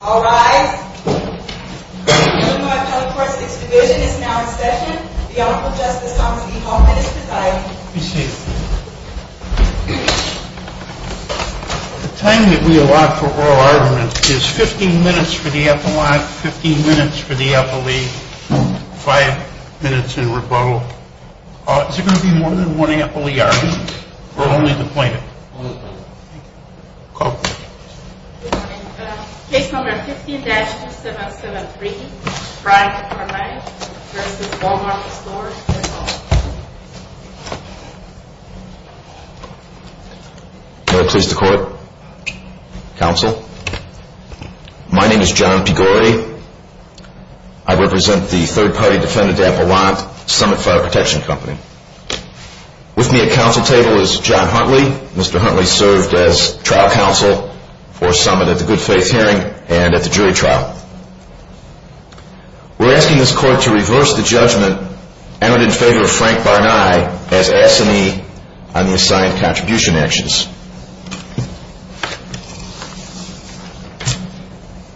All rise. The Illinois Appellate Court's 6th Division is now in session. The Honorable Justice Thomas E. Holman is presiding. Be seated. The time that we allot for oral arguments is 15 minutes for the epilogue, 15 minutes for the epilee, 5 minutes in rebuttal. Is there going to be more than one epilee argument, or only the plaintiff? Only the plaintiff. Call. Case No. 15-2773, Bryant v. Wal-Mart Stores, Inc. May it please the Court, Counsel. My name is John Pigore. I represent the third-party defendant Appellant, Summit Fire Protection Company. With me at counsel table is John Huntley. Mr. Huntley served as trial counsel for Summit at the Good Faith Hearing and at the jury trial. We're asking this Court to reverse the judgment entered in favor of Frank Barnai as assignee on the assigned contribution actions.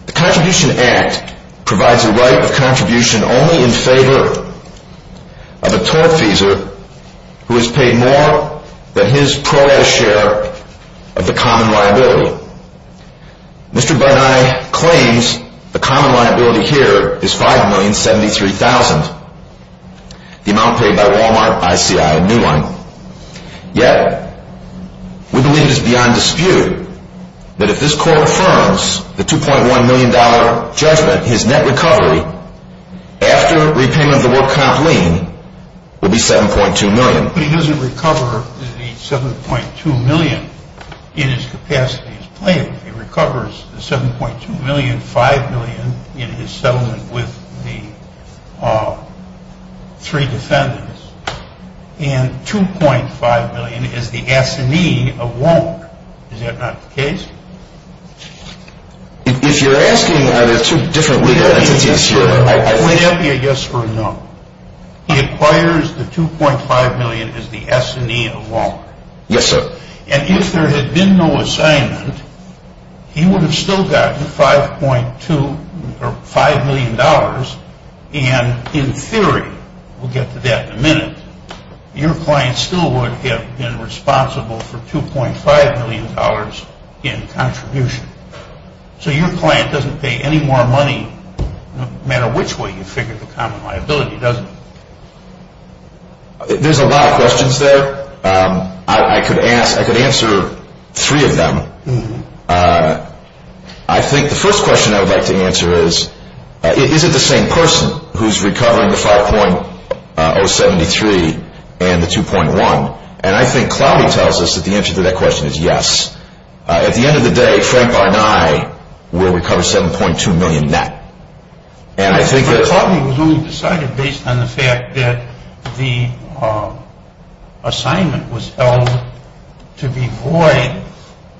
The Contribution Act provides a right of contribution only in favor of a tortfeasor who has paid more than his pro-rata share of the common liability. Mr. Barnai claims the common liability here is $5,073,000, the amount paid by Wal-Mart, ICI, and Newline. Yet, we believe it is beyond dispute that if this Court affirms the $2.1 million judgment, his net recovery after repayment of the work comp lien will be $7.2 million. But he doesn't recover the $7.2 million in his capacity as plaintiff. He recovers the $7.2 million, $5 million in his settlement with the three defendants, and $2.5 million as the assignee of Wal-Mart. Is that not the case? If you're asking are there two different legal entities here, I think... Would that be a yes or a no? He acquires the $2.5 million as the assignee of Wal-Mart. Yes, sir. And if there had been no assignment, he would have still gotten $5 million. And in theory, we'll get to that in a minute, your client still would have been responsible for $2.5 million in contribution. So your client doesn't pay any more money no matter which way you figure the common liability, does he? There's a lot of questions there. I could answer three of them. I think the first question I would like to answer is, is it the same person who's recovering the $5.073 million and the $2.1 million? And I think Cloudy tells us that the answer to that question is yes. At the end of the day, Frank Barney will recover $7.2 million net. But Cloudy was only decided based on the fact that the assignment was held to be void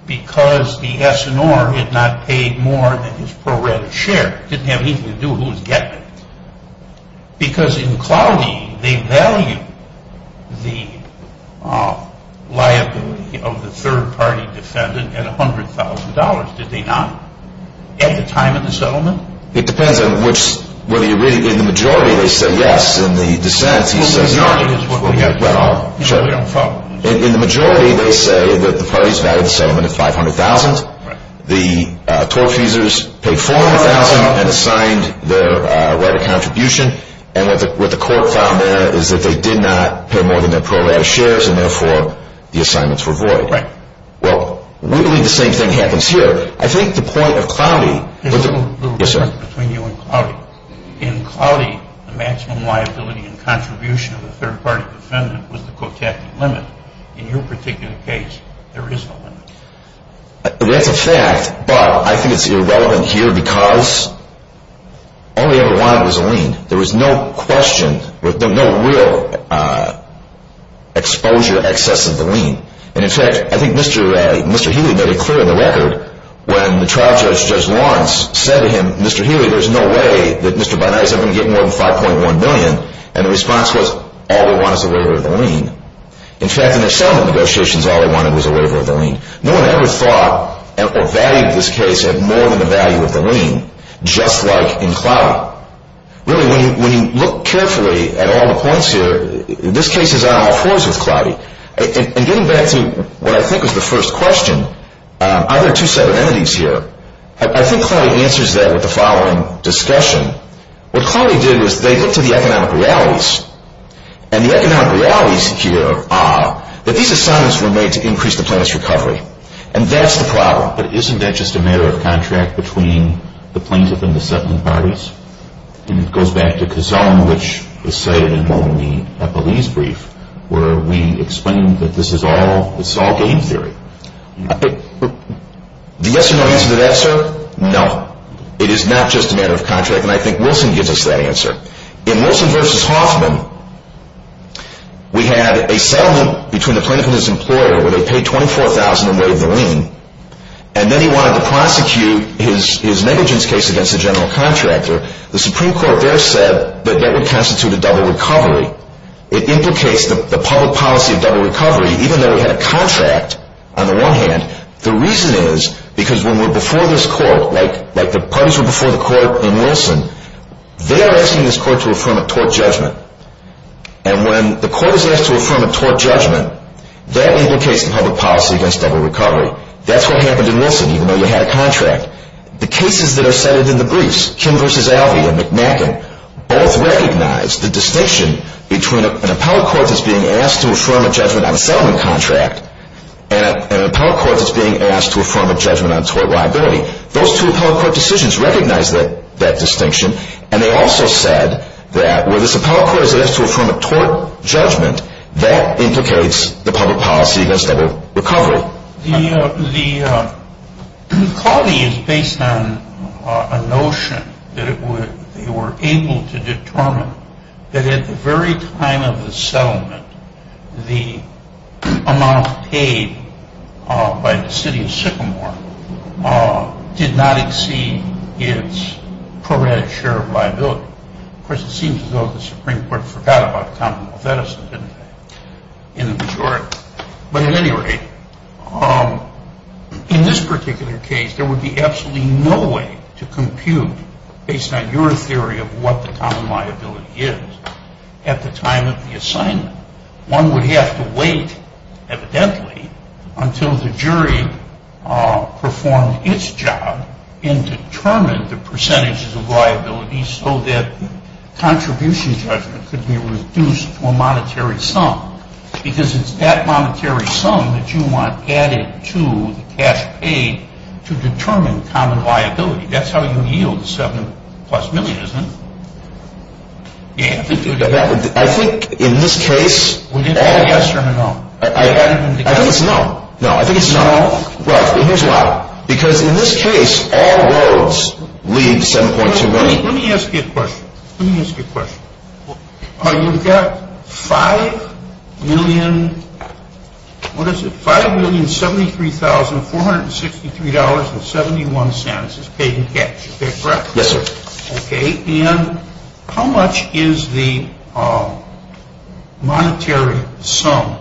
because the S&R had not paid more than his pro rata share. It didn't have anything to do with who was getting it. Because in Cloudy, they valued the liability of the third party defendant at $100,000, did they not? At the time of the settlement? It depends on which, whether you really, in the majority they say yes. In the majority, they say that the parties valued the settlement at $500,000. The tortfeasors paid $400,000 and assigned their right of contribution. And what the court found there is that they did not pay more than their pro rata shares and therefore the assignments were void. Well, really the same thing happens here. I think the point of Cloudy... There's a little difference between you and Cloudy. In Cloudy, the maximum liability and contribution of the third party defendant was the Kotecki limit. In your particular case, there is no limit. That's a fact, but I think it's irrelevant here because all they ever wanted was a lien. There was no question, no real exposure, access of the lien. And in fact, I think Mr. Healy made it clear in the record when the trial judge, Judge Lawrence, said to him, Mr. Healy, there's no way that Mr. Binari is ever going to get more than $5.1 billion. And the response was, all they want is a waiver of the lien. In fact, in their settlement negotiations, all they wanted was a waiver of the lien. No one ever thought or valued this case at more than the value of the lien, just like in Cloudy. Really, when you look carefully at all the points here, this case is on all fours with Cloudy. And getting back to what I think was the first question, are there two separate entities here? I think Cloudy answers that with the following discussion. What Cloudy did was they looked at the economic realities. And the economic realities here are that these assignments were made to increase the plaintiff's recovery. And that's the problem. But isn't that just a matter of contract between the plaintiff and the settlement parties? And it goes back to Kazan, which is cited in the police brief, where we explain that this is all game theory. The yes or no answer to that, sir? No. It is not just a matter of contract. And I think Wilson gives us that answer. In Wilson v. Hoffman, we had a settlement between the plaintiff and his employer where they paid $24,000 and waived the lien. And then he wanted to prosecute his negligence case against a general contractor. The Supreme Court there said that that would constitute a double recovery. It implicates the public policy of double recovery, even though we had a contract on the one hand. The reason is because when we're before this court, like the parties were before the court in Wilson, they are asking this court to affirm a tort judgment. And when the court is asked to affirm a tort judgment, that implicates the public policy against double recovery. That's what happened in Wilson, even though you had a contract. The cases that are cited in the briefs, Kim v. Alvey and McNaghan, both recognize the distinction between an appellate court that's being asked to affirm a judgment on a settlement contract and an appellate court that's being asked to affirm a judgment on tort liability. Those two appellate court decisions recognize that distinction. And they also said that where this appellate court is asked to affirm a tort judgment, that implicates the public policy against double recovery. The quality is based on a notion that they were able to determine that at the very time of the settlement, the amount paid by the city of Sycamore did not exceed its prorated share of liability. Of course, it seems as though the Supreme Court forgot about the common law of Edison, didn't they? In the majority. But at any rate, in this particular case, there would be absolutely no way to compute based on your theory of what the common liability is at the time of the assignment. One would have to wait, evidently, until the jury performed its job and determined the percentages of liability so that contribution judgment could be reduced to a monetary sum. Because it's that monetary sum that you want added to the cash paid to determine common liability. That's how you yield seven plus million, isn't it? You have to do that. I think in this case... Will you add a yes or a no? I think it's a no. No, I think it's a no. No? Well, here's why. Because in this case, all roads lead to 7.2 million. Let me ask you a question. Let me ask you a question. You've got 5,000,000... What is it? $5,073,463.71 is paid in cash. Is that correct? Yes, sir. Okay, and how much is the monetary sum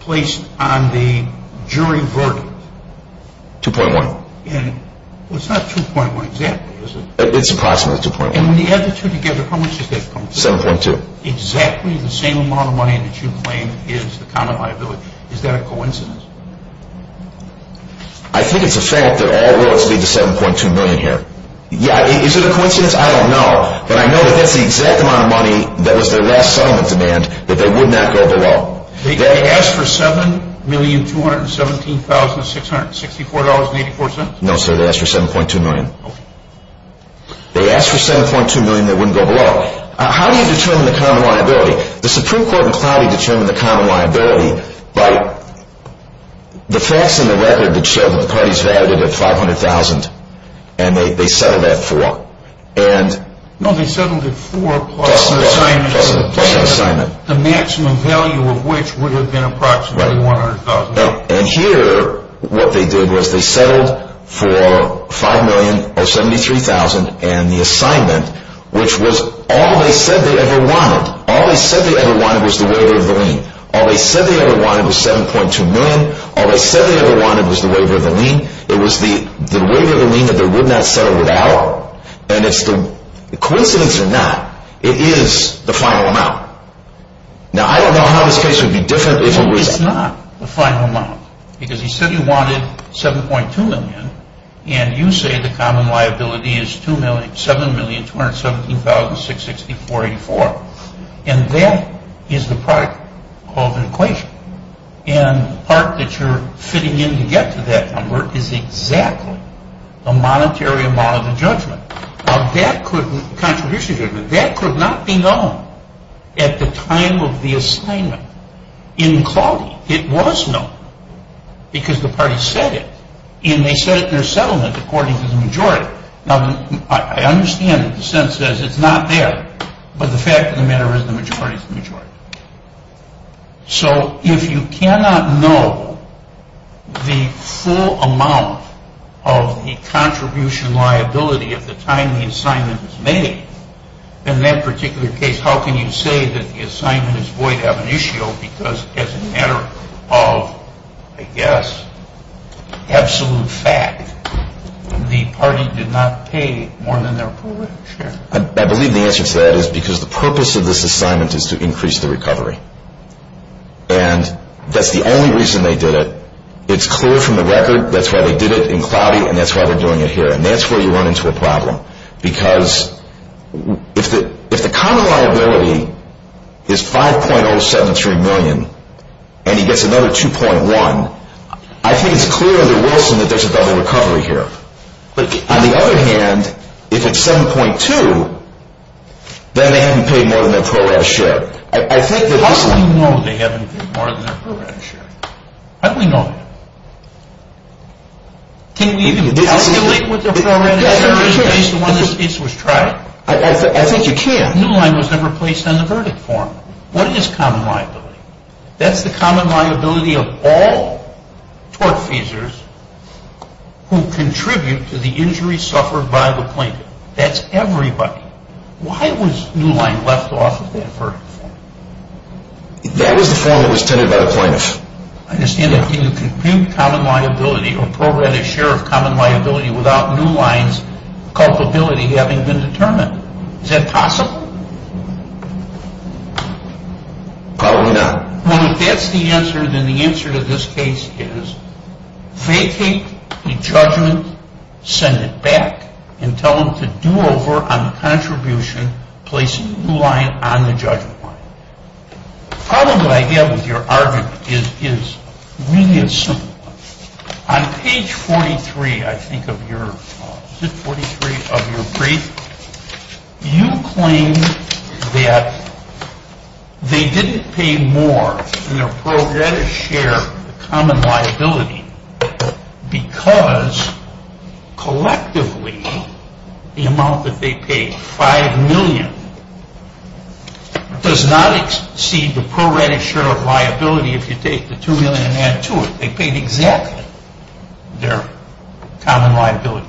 placed on the jury verdict? 2.1. It's not 2.1 exactly, is it? It's approximately 2.1. And when you add the two together, how much does that come to? 7.2. Exactly the same amount of money that you claim is the common liability. Is that a coincidence? I think it's a fact that all roads lead to 7.2 million here. Yeah, is it a coincidence? I don't know. But I know that that's the exact amount of money that was their last settlement demand that they would not go below. They asked for $7,217,664.84? No, sir. They asked for 7.2 million. Okay. They asked for 7.2 million that wouldn't go below. How do you determine the common liability? The Supreme Court in Cloudy determined the common liability by the facts in the record that show that the parties validated at $500,000 and they settled at $4,000. No, they settled at $4,000 plus an assignment. Plus an assignment. The maximum value of which would have been approximately $100,000. And here what they did was they settled for $5,073,000 and the assignment, which was all they said they ever wanted. All they said they ever wanted was the waiver of the lien. All they said they ever wanted was $7.2 million. All they said they ever wanted was the waiver of the lien. It was the waiver of the lien that they would not settle without. And it's the coincidence or not, it is the final amount. Now, I don't know how this case would be different if it was. It's not the final amount because he said he wanted $7.2 million and you say the common liability is $7,217,664.84. And that is the product of an equation. And the part that you're fitting in to get to that number is exactly the monetary amount of the judgment. Now, that could, contribution judgment, that could not be known at the time of the assignment in quality. It was known because the party said it. And they said it in their settlement according to the majority. Now, I understand that the sentence says it's not there, but the fact of the matter is the majority is the majority. So if you cannot know the full amount of the contribution liability at the time the assignment was made, in that particular case, how can you say that the assignment is void ab initio because as a matter of, I guess, absolute fact, the party did not pay more than their prorate share? I believe the answer to that is because the purpose of this assignment is to increase the recovery. And that's the only reason they did it. It's clear from the record that's why they did it in quality and that's why they're doing it here. And that's where you run into a problem. Because if the common liability is $5.073 million and he gets another $2.1, I think it's clear under Wilson that there's a double recovery here. On the other hand, if it's $7.2, then they haven't paid more than their prorate share. How do we know they haven't paid more than their prorate share? How do we know that? Can we even calculate what their prorate share is based on when this case was tried? I think you can. No, it was never placed on the verdict form. What is common liability? That's the common liability of all tortfeasors who contribute to the injuries suffered by the plaintiff. That's everybody. Why was New Line left off of that verdict form? That was the form that was tended by the plaintiff. I understand that. Can you compute common liability or prorate a share of common liability without New Line's culpability having been determined? Is that possible? Probably not. Well, if that's the answer, then the answer to this case is vacate the judgment, send it back, and tell them to do over on the contribution placing New Line on the judgment line. The problem that I have with your argument is really a simple one. On page 43, I think, of your brief, you claim that they didn't pay more than their prorate share of the common liability because, collectively, the amount that they paid, $5 million, does not exceed the prorate share of liability if you take the $2 million and add to it. They paid exactly their common liability.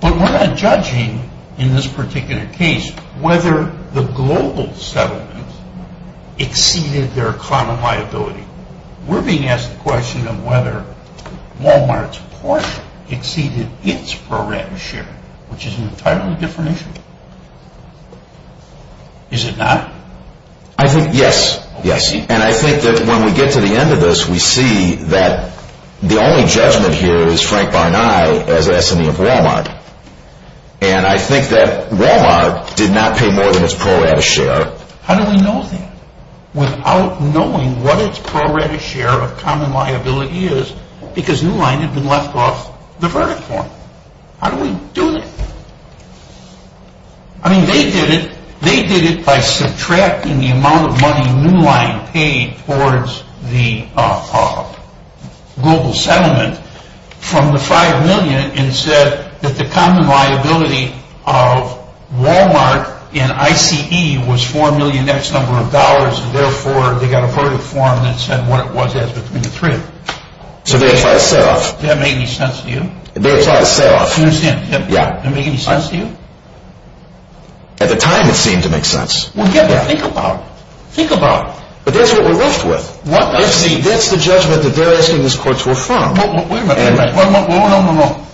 But we're not judging, in this particular case, whether the global settlement exceeded their common liability. We're being asked the question of whether Wal-Mart's portion exceeded its prorate share, which is an entirely different issue. Is it not? Yes. And I think that when we get to the end of this, we see that the only judgment here is Frank Barney as S&E of Wal-Mart. And I think that Wal-Mart did not pay more than its prorate share. How do we know that? Without knowing what its prorate share of common liability is because New Line had been left off the verdict form. How do we do that? I mean, they did it by subtracting the amount of money New Line paid towards the global settlement from the $5 million and said that the common liability of Wal-Mart in ICE was $4 million X number of dollars and therefore they got a verdict form that said what it was as between the three. So they were trying to set off... Does that make any sense to you? They were trying to set off... Do you understand? Yeah. Does that make any sense to you? At the time, it seemed to make sense. Well, think about it. Think about it. But that's what we're left with. That's the judgment that they're asking this court to affirm. Wait a minute. No, no, no.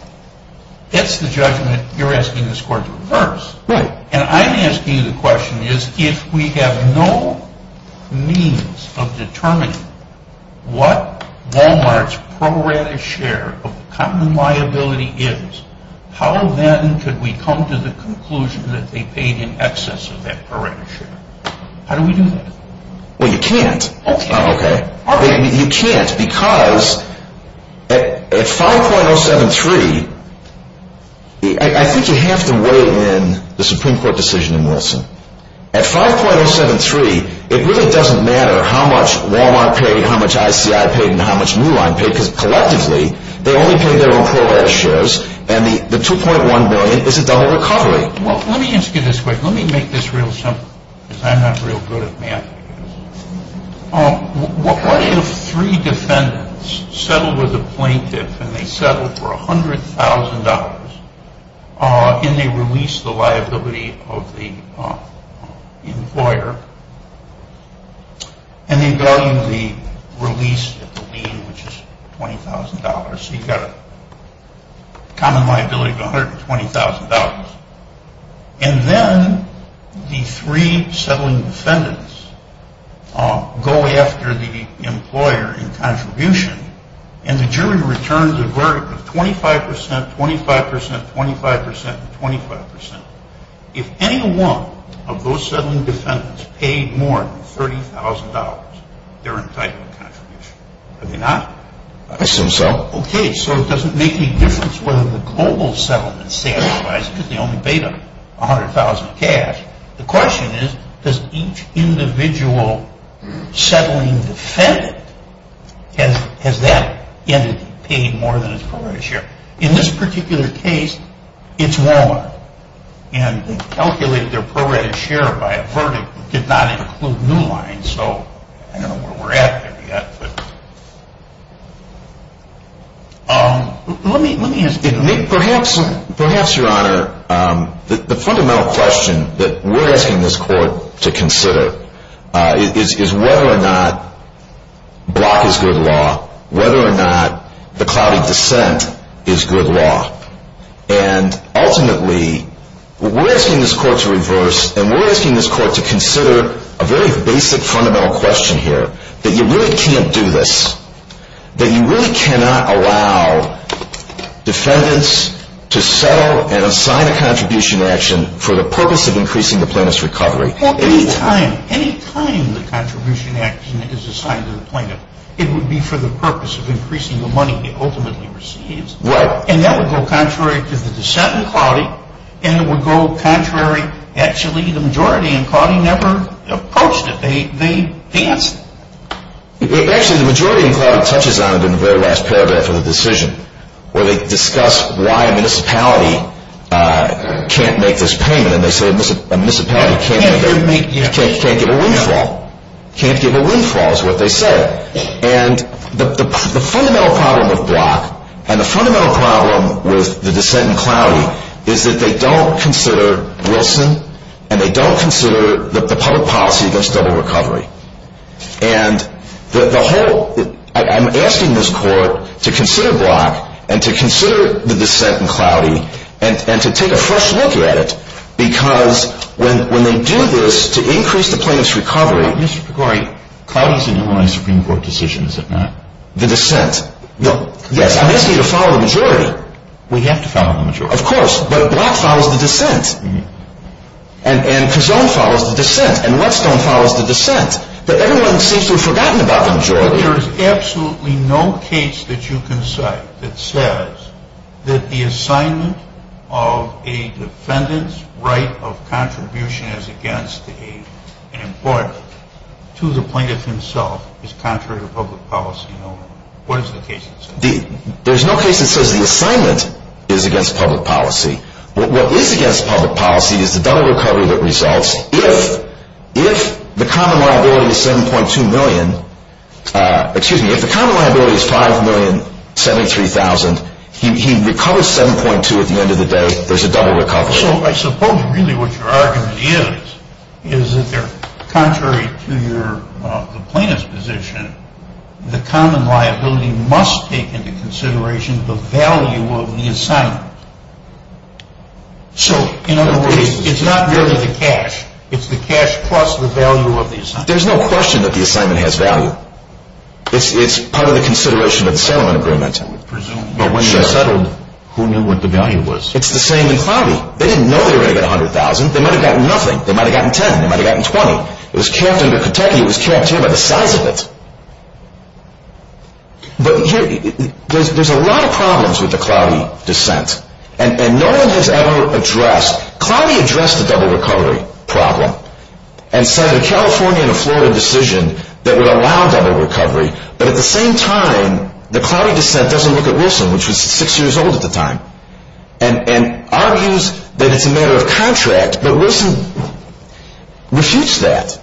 That's the judgment you're asking this court to reverse. And I'm asking you the question is if we have no means of determining what Wal-Mart's prorate share of common liability is, how then could we come to the conclusion that they paid in excess of that prorate share? How do we do that? Well, you can't. Okay. You can't because at 5.073, I think you have to weigh in the Supreme Court decision in Wilson. At 5.073, it really doesn't matter how much Wal-Mart paid, how much ICI paid, and how much Muline paid because collectively, they only paid their own prorate shares and the 2.1 million is a double recovery. Well, let me ask you this quick. Let me make this real simple because I'm not real good at math. What if three defendants settle with a plaintiff and they settle for $100,000 and they release the liability of the employer and they value the release of the lien, which is $20,000. So you've got a common liability of $120,000. And then the three settling defendants go after the employer in contribution and the jury returns a verdict of 25%, 25%, 25%, and 25%. If any one of those settling defendants paid more than $30,000, they're entitled to contribution. Are they not? I assume so. Okay. So it doesn't make any difference whether the global settlement satisfies because they only paid $100,000 cash. The question is does each individual settling defendant has that entity paid more than its prorate share? In this particular case, it's Walmart. And they calculated their prorate share by a verdict that did not include new lines. So I don't know where we're at yet. Let me ask you. Perhaps, Your Honor, the fundamental question that we're asking this court to consider is whether or not block is good law, whether or not the cloudy descent is good law. And ultimately, we're asking this court to reverse and we're asking this court to consider a very basic fundamental question here that you really can't do this. That you really cannot allow defendants to settle and assign a contribution action for the purpose of increasing the plaintiff's recovery. Any time, any time the contribution action is assigned to the plaintiff, it would be for the purpose of increasing the money it ultimately receives. Right. And that would go contrary to the descent in cloudy and it would go contrary, actually, the majority in cloudy never approached it. They danced it. Actually, the majority in cloudy touches on it in the very last paragraph of the decision where they discuss why a municipality can't make this payment and they say a municipality can't give a windfall. Can't give a windfall is what they said. And the fundamental problem of block and the fundamental problem with the descent in cloudy is that they don't consider Wilson and they don't consider the public policy against double recovery. And the whole, I'm asking this court to consider block and to consider the descent in cloudy and to take a fresh look at it because when they do this to increase the plaintiff's recovery. Mr. Picori, cloudy is an Illinois Supreme Court decision, is it not? The descent. Yes. I'm asking you to follow the majority. We have to follow the majority. Of course. But block follows the descent. And Kazone follows the descent. And Whetstone follows the descent. But everyone seems to have forgotten about the majority. But there is absolutely no case that you can cite that says that the assignment of a defendant's right of contribution as against an employer to the plaintiff himself is contrary to public policy no more. What is the case that says that? There's no case that says the assignment is against public policy. What is against public policy is the double recovery that results if the common liability is 7.2 million, excuse me, if the common liability is 5,073,000, he recovers 7.2 at the end of the day, there's a double recovery. So I suppose really what your argument is is that they're contrary to the plaintiff's position. The common liability must take into consideration the value of the assignment. So, in other words, it's not really the cash. It's the cash plus the value of the assignment. There's no question that the assignment has value. It's part of the consideration of the settlement agreement. But when they settled, who knew what the value was? It's the same in Cloudy. They didn't know they were going to get 100,000. They might have gotten nothing. They might have gotten 10. They might have gotten 20. It was capped under Kentucky. It was capped here by the size of it. But here, there's a lot of problems with the Cloudy dissent. And no one has ever addressed... Cloudy addressed the double recovery problem and said a California and a Florida decision that would allow double recovery, but at the same time, the Cloudy dissent doesn't look at Wilson, which was six years old at the time, and argues that it's a matter of contract. But Wilson refutes that.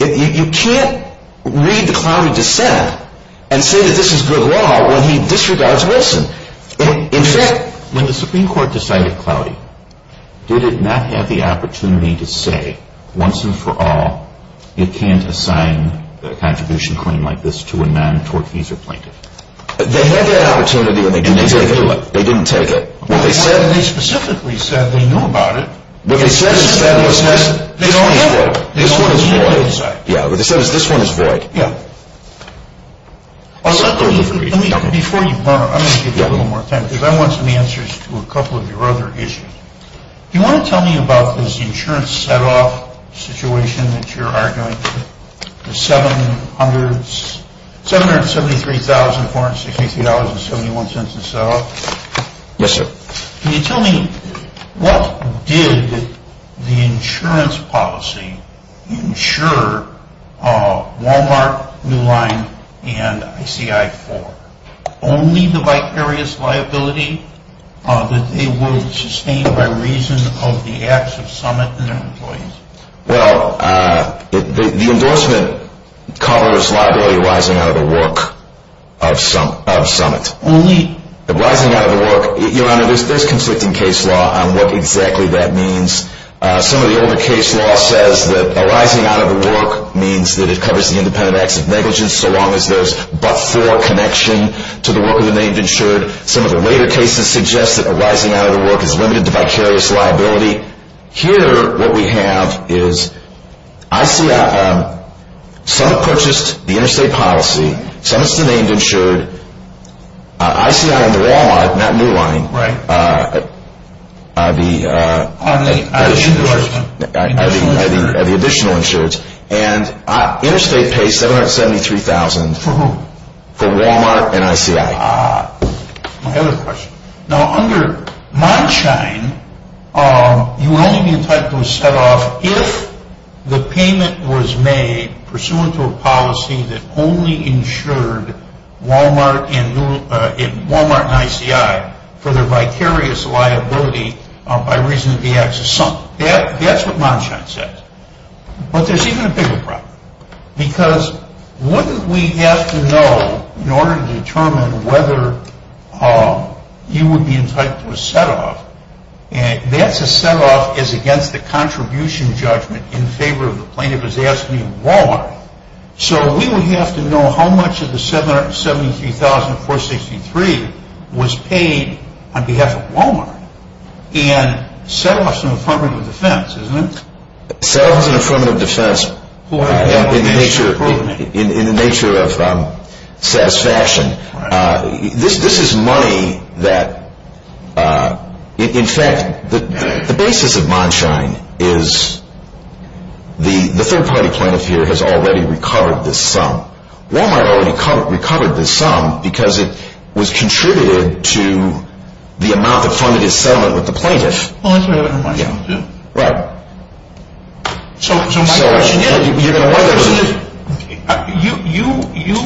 You can't read the Cloudy dissent and say that this is good law when he disregards Wilson. In fact, when the Supreme Court decided Cloudy, did it not have the opportunity to say, once and for all, it can't assign a contribution claim like this to a non-Torquezer plaintiff? They had that opportunity, and they didn't take it. They didn't take it. What they said... They specifically said they knew about it. What they said is that... They don't have it. This one is void. Yeah. What they said is this one is void. Yeah. Before you burn, I'm going to give you a little more time, because I want some answers to a couple of your other issues. Do you want to tell me about this insurance set-off situation that you're arguing? The $773,463.71 set-off? Yes, sir. Can you tell me, what did the insurance policy insure Walmart, New Line, and ICI-4? Only the vicarious liability that they will sustain by reason of the acts of summit and their employees. Well, the endorsement covers liability rising out of the work of summit. Only... Rising out of the work... Your Honor, there's conflicting case law on what exactly that means. Some of the older case law says that a rising out of the work means that it covers the independent acts of negligence so long as there's but-for connection to the work of the named insured. Some of the later cases suggest that a rising out of the work is limited to vicarious liability. Here, what we have is ICI... Summit purchased the interstate policy. Summit's the named insured. ICI and the Walmart, not New Line... Right. The... On the endorsement. The additional insurance. And interstate pays $773,000... For whom? For Walmart and ICI. My other question. Now, under Monshine, you would only be entitled to a set-off if the payment was made pursuant to a policy that only insured Walmart and ICI for their vicarious liability by reason of the acts of Summit. That's what Monshine says. But there's even a bigger problem. Because wouldn't we have to know in order to determine whether you would be entitled to a set-off? That's a set-off is against the contribution judgment in favor of the plaintiff is asking Walmart. So we would have to know how much of the $773,463 was paid on behalf of Walmart and settles an affirmative defense, isn't it? Settles an affirmative defense in the nature of satisfaction. This is money that... In fact, the basis of Monshine is the third-party plaintiff here has already recovered this sum. Walmart already recovered this sum because it was contributed to the amount that funded his settlement with the plaintiff. Well, that's what happened to Monshine, too. Right. So my question is... You're going to... You...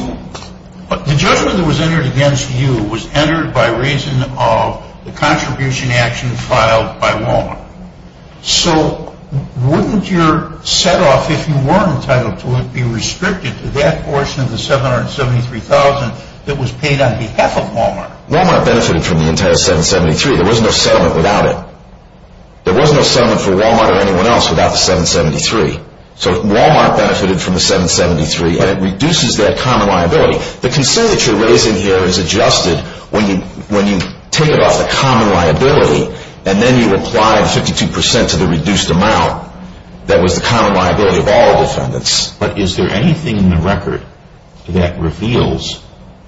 The judgment that was entered against you was entered by reason of the contribution action filed by Walmart. So wouldn't your set-off, if you were entitled to it, be restricted to that portion of the $773,463 that was paid on behalf of Walmart? Walmart benefited from the entire $773,463. There was no settlement without it. There was no settlement for Walmart or anyone else without the $773,463. So Walmart benefited from the $773,463 and it reduces that common liability. The concern that you're raising here is adjusted when you take it off the common liability and then you apply the 52% to the reduced amount that was the common liability of all defendants. But is there anything in the record that reveals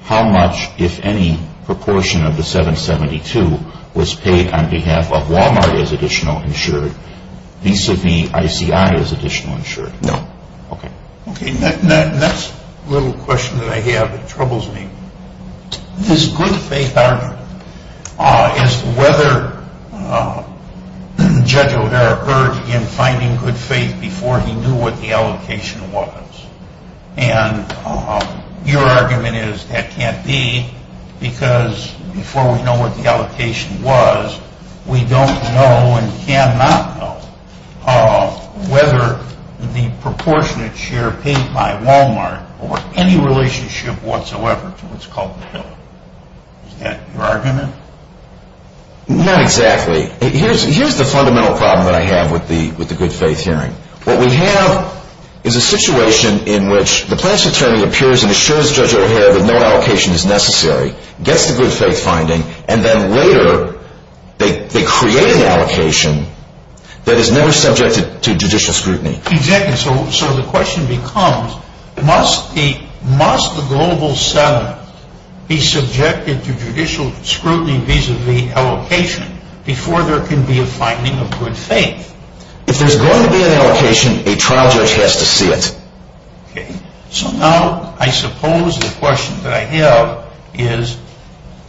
how much, if any, proportion of the $772,463 was paid on behalf of Walmart as additional insured vis-a-vis ICI as additional insured? No. Okay. The next little question that I have that troubles me is good faith argument. As to whether Judge O'Hara heard in finding good faith before he knew what the allocation was. And your argument is that can't be because before we know what the allocation was we don't know and cannot know whether the proportionate share paid by Walmart or any relationship whatsoever to what's called the bill. Is that your argument? Not exactly. Here's the fundamental problem that I have with the good faith hearing. What we have is a situation in which the plaintiff's attorney appears and assures Judge O'Hara that no allocation is necessary. Gets the good faith finding and then later they create an allocation that is never subjected to judicial scrutiny. Exactly. So the question becomes must the global settlement be subjected to judicial scrutiny vis-a-vis allocation before there can be a finding of good faith? If there's going to be an allocation a trial judge has to see it. Okay. So now I suppose the question that I have is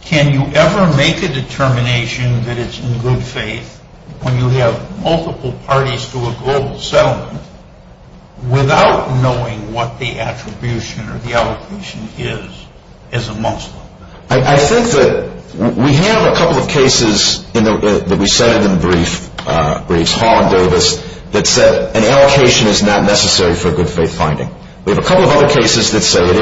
can you ever make a determination that it's in good faith when you have multiple parties to a global settlement without knowing what the attribution or the allocation is as a Muslim? I think that we have a couple of cases that we cited in the briefs that said an allocation is not necessary for a good faith finding. We have a couple of other cases that say it is. But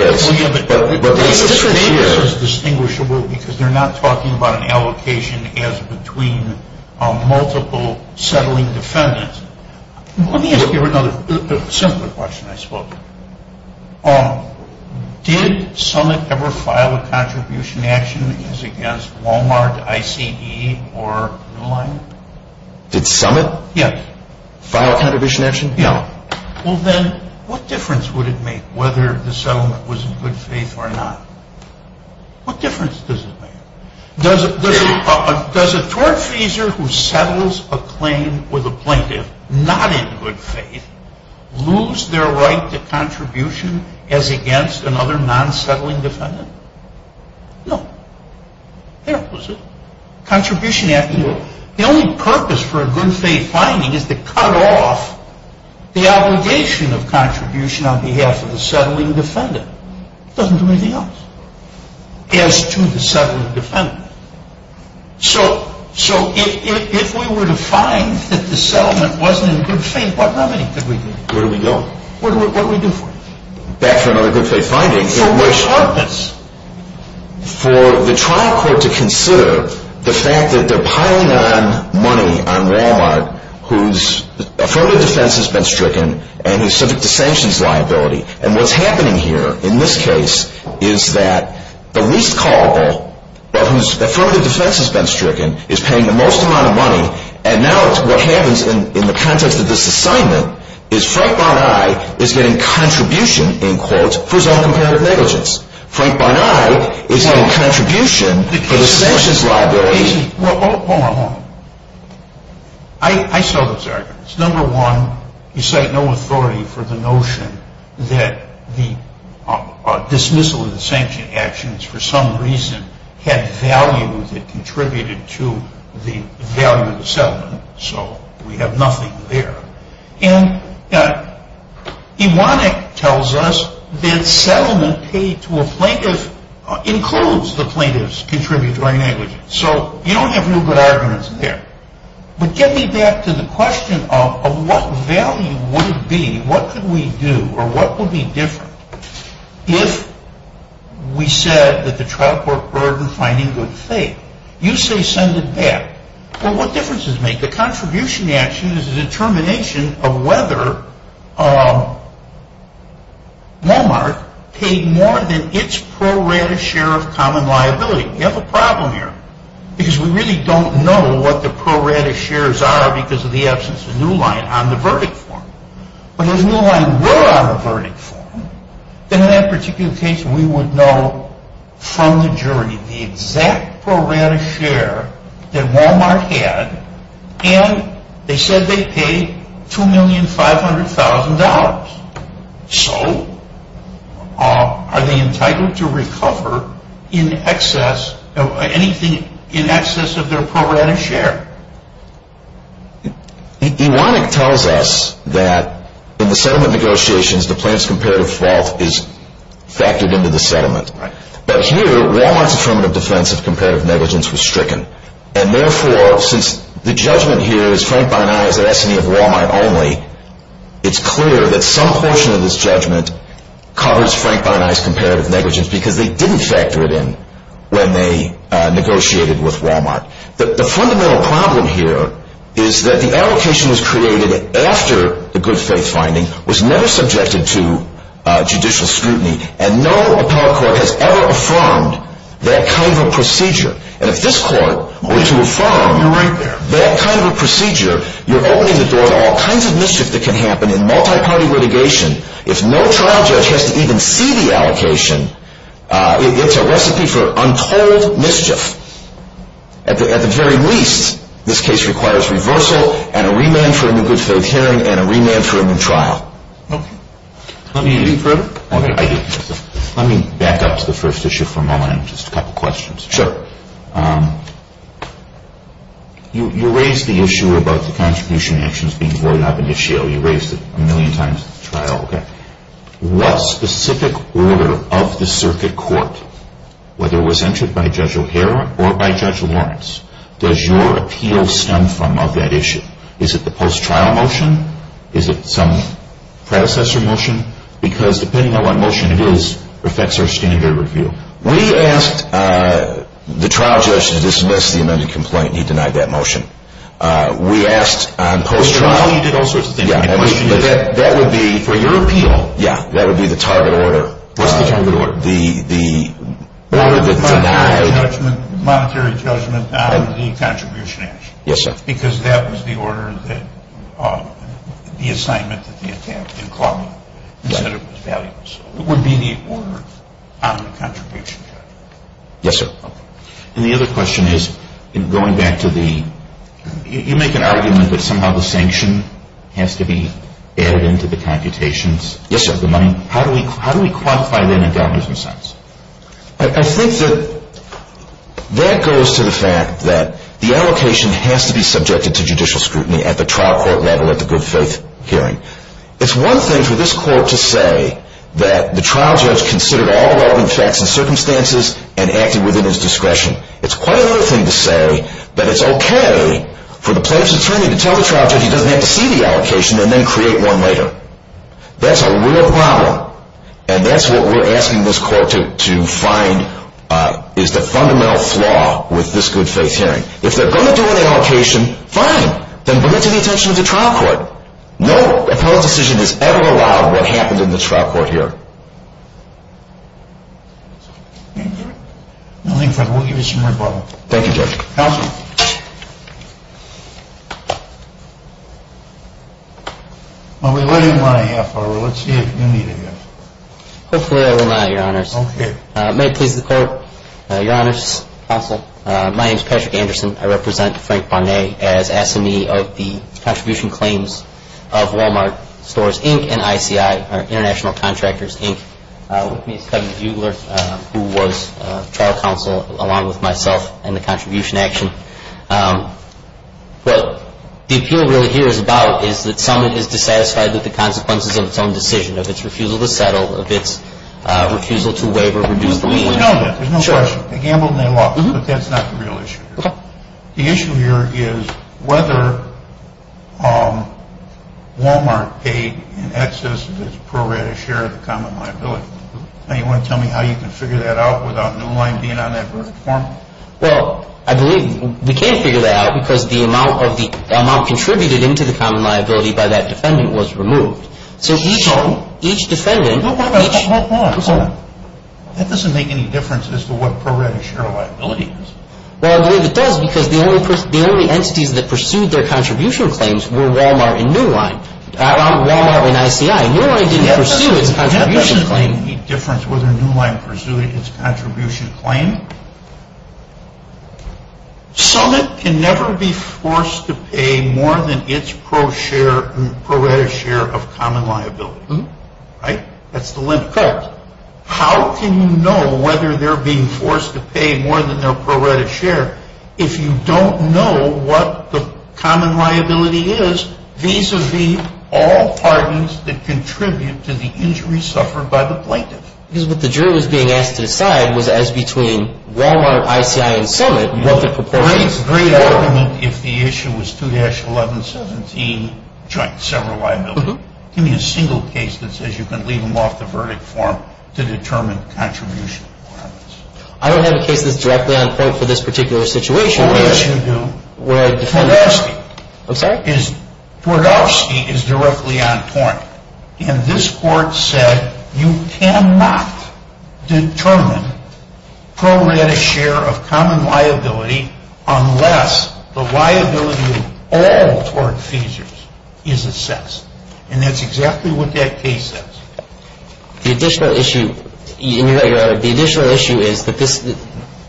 it's different here. Distinguishable because they're not talking about an allocation as between multiple settling defendants. Let me ask you another simple question. I spoke. Did Summit ever file a contribution action as against Wal-Mart, ICE, or New Line? Did Summit? Yes. File a contribution action? No. Well then, what difference would it make whether the settlement was in good faith or not? What difference does it make? Does a tortfeasor who settles a claim with a plaintiff not in good faith lose their right to contribution as against another non-settling defendant? No. They're opposites. Contribution action. The only purpose for a good faith finding is to cut off the obligation of contribution on behalf of the settling defendant. It doesn't do anything else as to the settling defendant. So if we were to find that the settlement wasn't in good faith, what remedy could we do? Where do we go? What do we do for it? Back to another good faith finding. For what purpose? For the trial court to consider the fact that they're piling on money on Wal-Mart whose affirmative defense has been stricken and is subject to sanctions liability. And what's happening here, in this case, is that the least culpable, whose affirmative defense has been stricken, is paying the most amount of money. And now what happens in the context of this assignment is Frank Barney is getting contribution, in quotes, for his own comparative negligence. Frank Barney is getting contribution for the sanctions liability. Hold on. I saw those arguments. Number one, you cite no authority for the notion that the dismissal of the sanction actions, for some reason, had value that contributed to the value of the settlement. So we have nothing there. And Ewanek tells us that settlement paid to a plaintiff includes the plaintiff's contributory negligence. So you don't have real good arguments there. But get me back to the question of what value would it be, what could we do, or what would be different if we said that the trial court burdened finding good faith? You say send it back. Well, what difference does it make? The contribution action is a determination of whether Walmart paid more than its pro rata share of common liability. We have a problem here because we really don't know what the pro rata shares are because of the absence of the new line on the verdict form. But if the new line were on the verdict form, then in that particular case, we would know from the jury the exact pro rata share that Walmart had and they said they paid $2,500,000. So are they entitled to recover anything in excess of their pro rata share? Ewanek tells us that in the settlement negotiations, the plaintiff's comparative fault is factored into the settlement. But here, Walmart's affirmative defense of comparative negligence was stricken. And therefore, since the judgment here is Frank Bainais at S&E of Walmart only, it's clear that some portion of this judgment covers Frank Bainais' comparative negligence because they didn't factor it in when they negotiated with Walmart. The fundamental problem here is that the allocation was created after the good faith finding was never subjected to judicial scrutiny and no appellate court has ever affirmed that kind of a procedure. And if this court were to affirm that kind of a procedure, you're opening the door to all kinds of mischief that can happen in multi-party litigation. If no trial judge has to even see the allocation, it's a recipe for untold mischief. At the very least, this case requires reversal and a remand for a new good faith hearing and a remand for a new trial. Let me back up to the first issue for a moment and just a couple questions. Sure. You raised the issue about the contribution actions being voided up in the shale. You raised it a million times at the trial. What specific order of the circuit court, whether it was entered by Judge O'Hara or by Judge Lawrence, does your appeal stem from of that issue? Is it the post-trial motion? Is it some predecessor motion? Because depending on what motion it is, it affects our standard of review. We asked the trial judge to dismiss the amended complaint, and he denied that motion. We asked on post-trial... Post-trial, you did all sorts of things. But that would be, for your appeal, that would be the target order. What's the target order? The order that denied... Monetary judgment on the contribution action. Yes, sir. Because that was the order that... The assignment that they had to have in court is that it was valuable. So it would be the order on the contribution judgment. Yes, sir. And the other question is, going back to the... You make an argument that somehow the sanction has to be added into the computations. Yes, sir. How do we quantify that in dollars and cents? I think that that goes to the fact that the allocation has to be subjected to judicial scrutiny at the trial court level at the good faith hearing. It's one thing for this court to say that the trial judge considered all the relevant facts and circumstances and acted within his discretion. It's quite another thing to say that it's okay for the plaintiff's attorney to tell the trial judge he doesn't have to see the allocation and then create one later. That's a real problem, and that's what we're asking this court to find is the fundamental flaw with this good faith hearing. If they're going to do an allocation, fine. Then bring it to the attention of the trial court. No appellate decision has ever allowed what happened in this trial court here. Thank you. Nothing further. We'll give you some rebuttal. Thank you, Judge. Counsel. Well, we let him run a half hour. Let's see if you need a guess. Hopefully I will not, Your Honors. Okay. May it please the Court, Your Honors, Counsel, my name is Patrick Anderson. I represent Frank Barnett as assignee of the contribution claims of Walmart Stores, Inc. and ICI, or International Contractors, Inc. With me is Kevin Buegler, who was trial counsel along with myself in the contribution action. What the appeal really here is about is that someone is dissatisfied with the consequences of its own decision, of its refusal to settle, of its refusal to waive or reduce the lien. We know that. There's no question. They gambled and they lost, but that's not the real issue here. Okay. The issue here is whether Walmart paid in excess of its prorated share of the common liability. Now, you want to tell me how you can figure that out without new line being on that verdict form? Well, I believe we can't figure that out because the amount contributed into the common liability by that defendant was removed. So each defendant... Hold on. Hold on. That doesn't make any difference as to what prorated share of liability is. Well, I believe it does because the only entities that pursued their contribution claims were Walmart and new line. Walmart and ICI. New line didn't pursue its contribution claim. That doesn't make any difference whether new line pursued its contribution claim. Summit can never be forced to pay more than its prorated share of common liability. Right? That's the limit. Correct. But how can you know whether they're being forced to pay more than their prorated share if you don't know what the common liability is vis-a-vis all parties that contribute to the injury suffered by the plaintiff? Because what the jury was being asked to decide was as between Walmart, ICI, and Summit what the proportion is. It's a great argument if the issue was 2-1117 joint sever liability. Give me a single case that says you can leave them off the verdict form to determine contribution requirements. I don't have a case that's directly on point for this particular situation. Oh, yes, you do. Twardowski. I'm sorry? Twardowski is directly on point. And this court said you cannot determine prorated share of common liability unless the liability of all tort feasors is assessed. And that's exactly what that case says. The additional issue is that this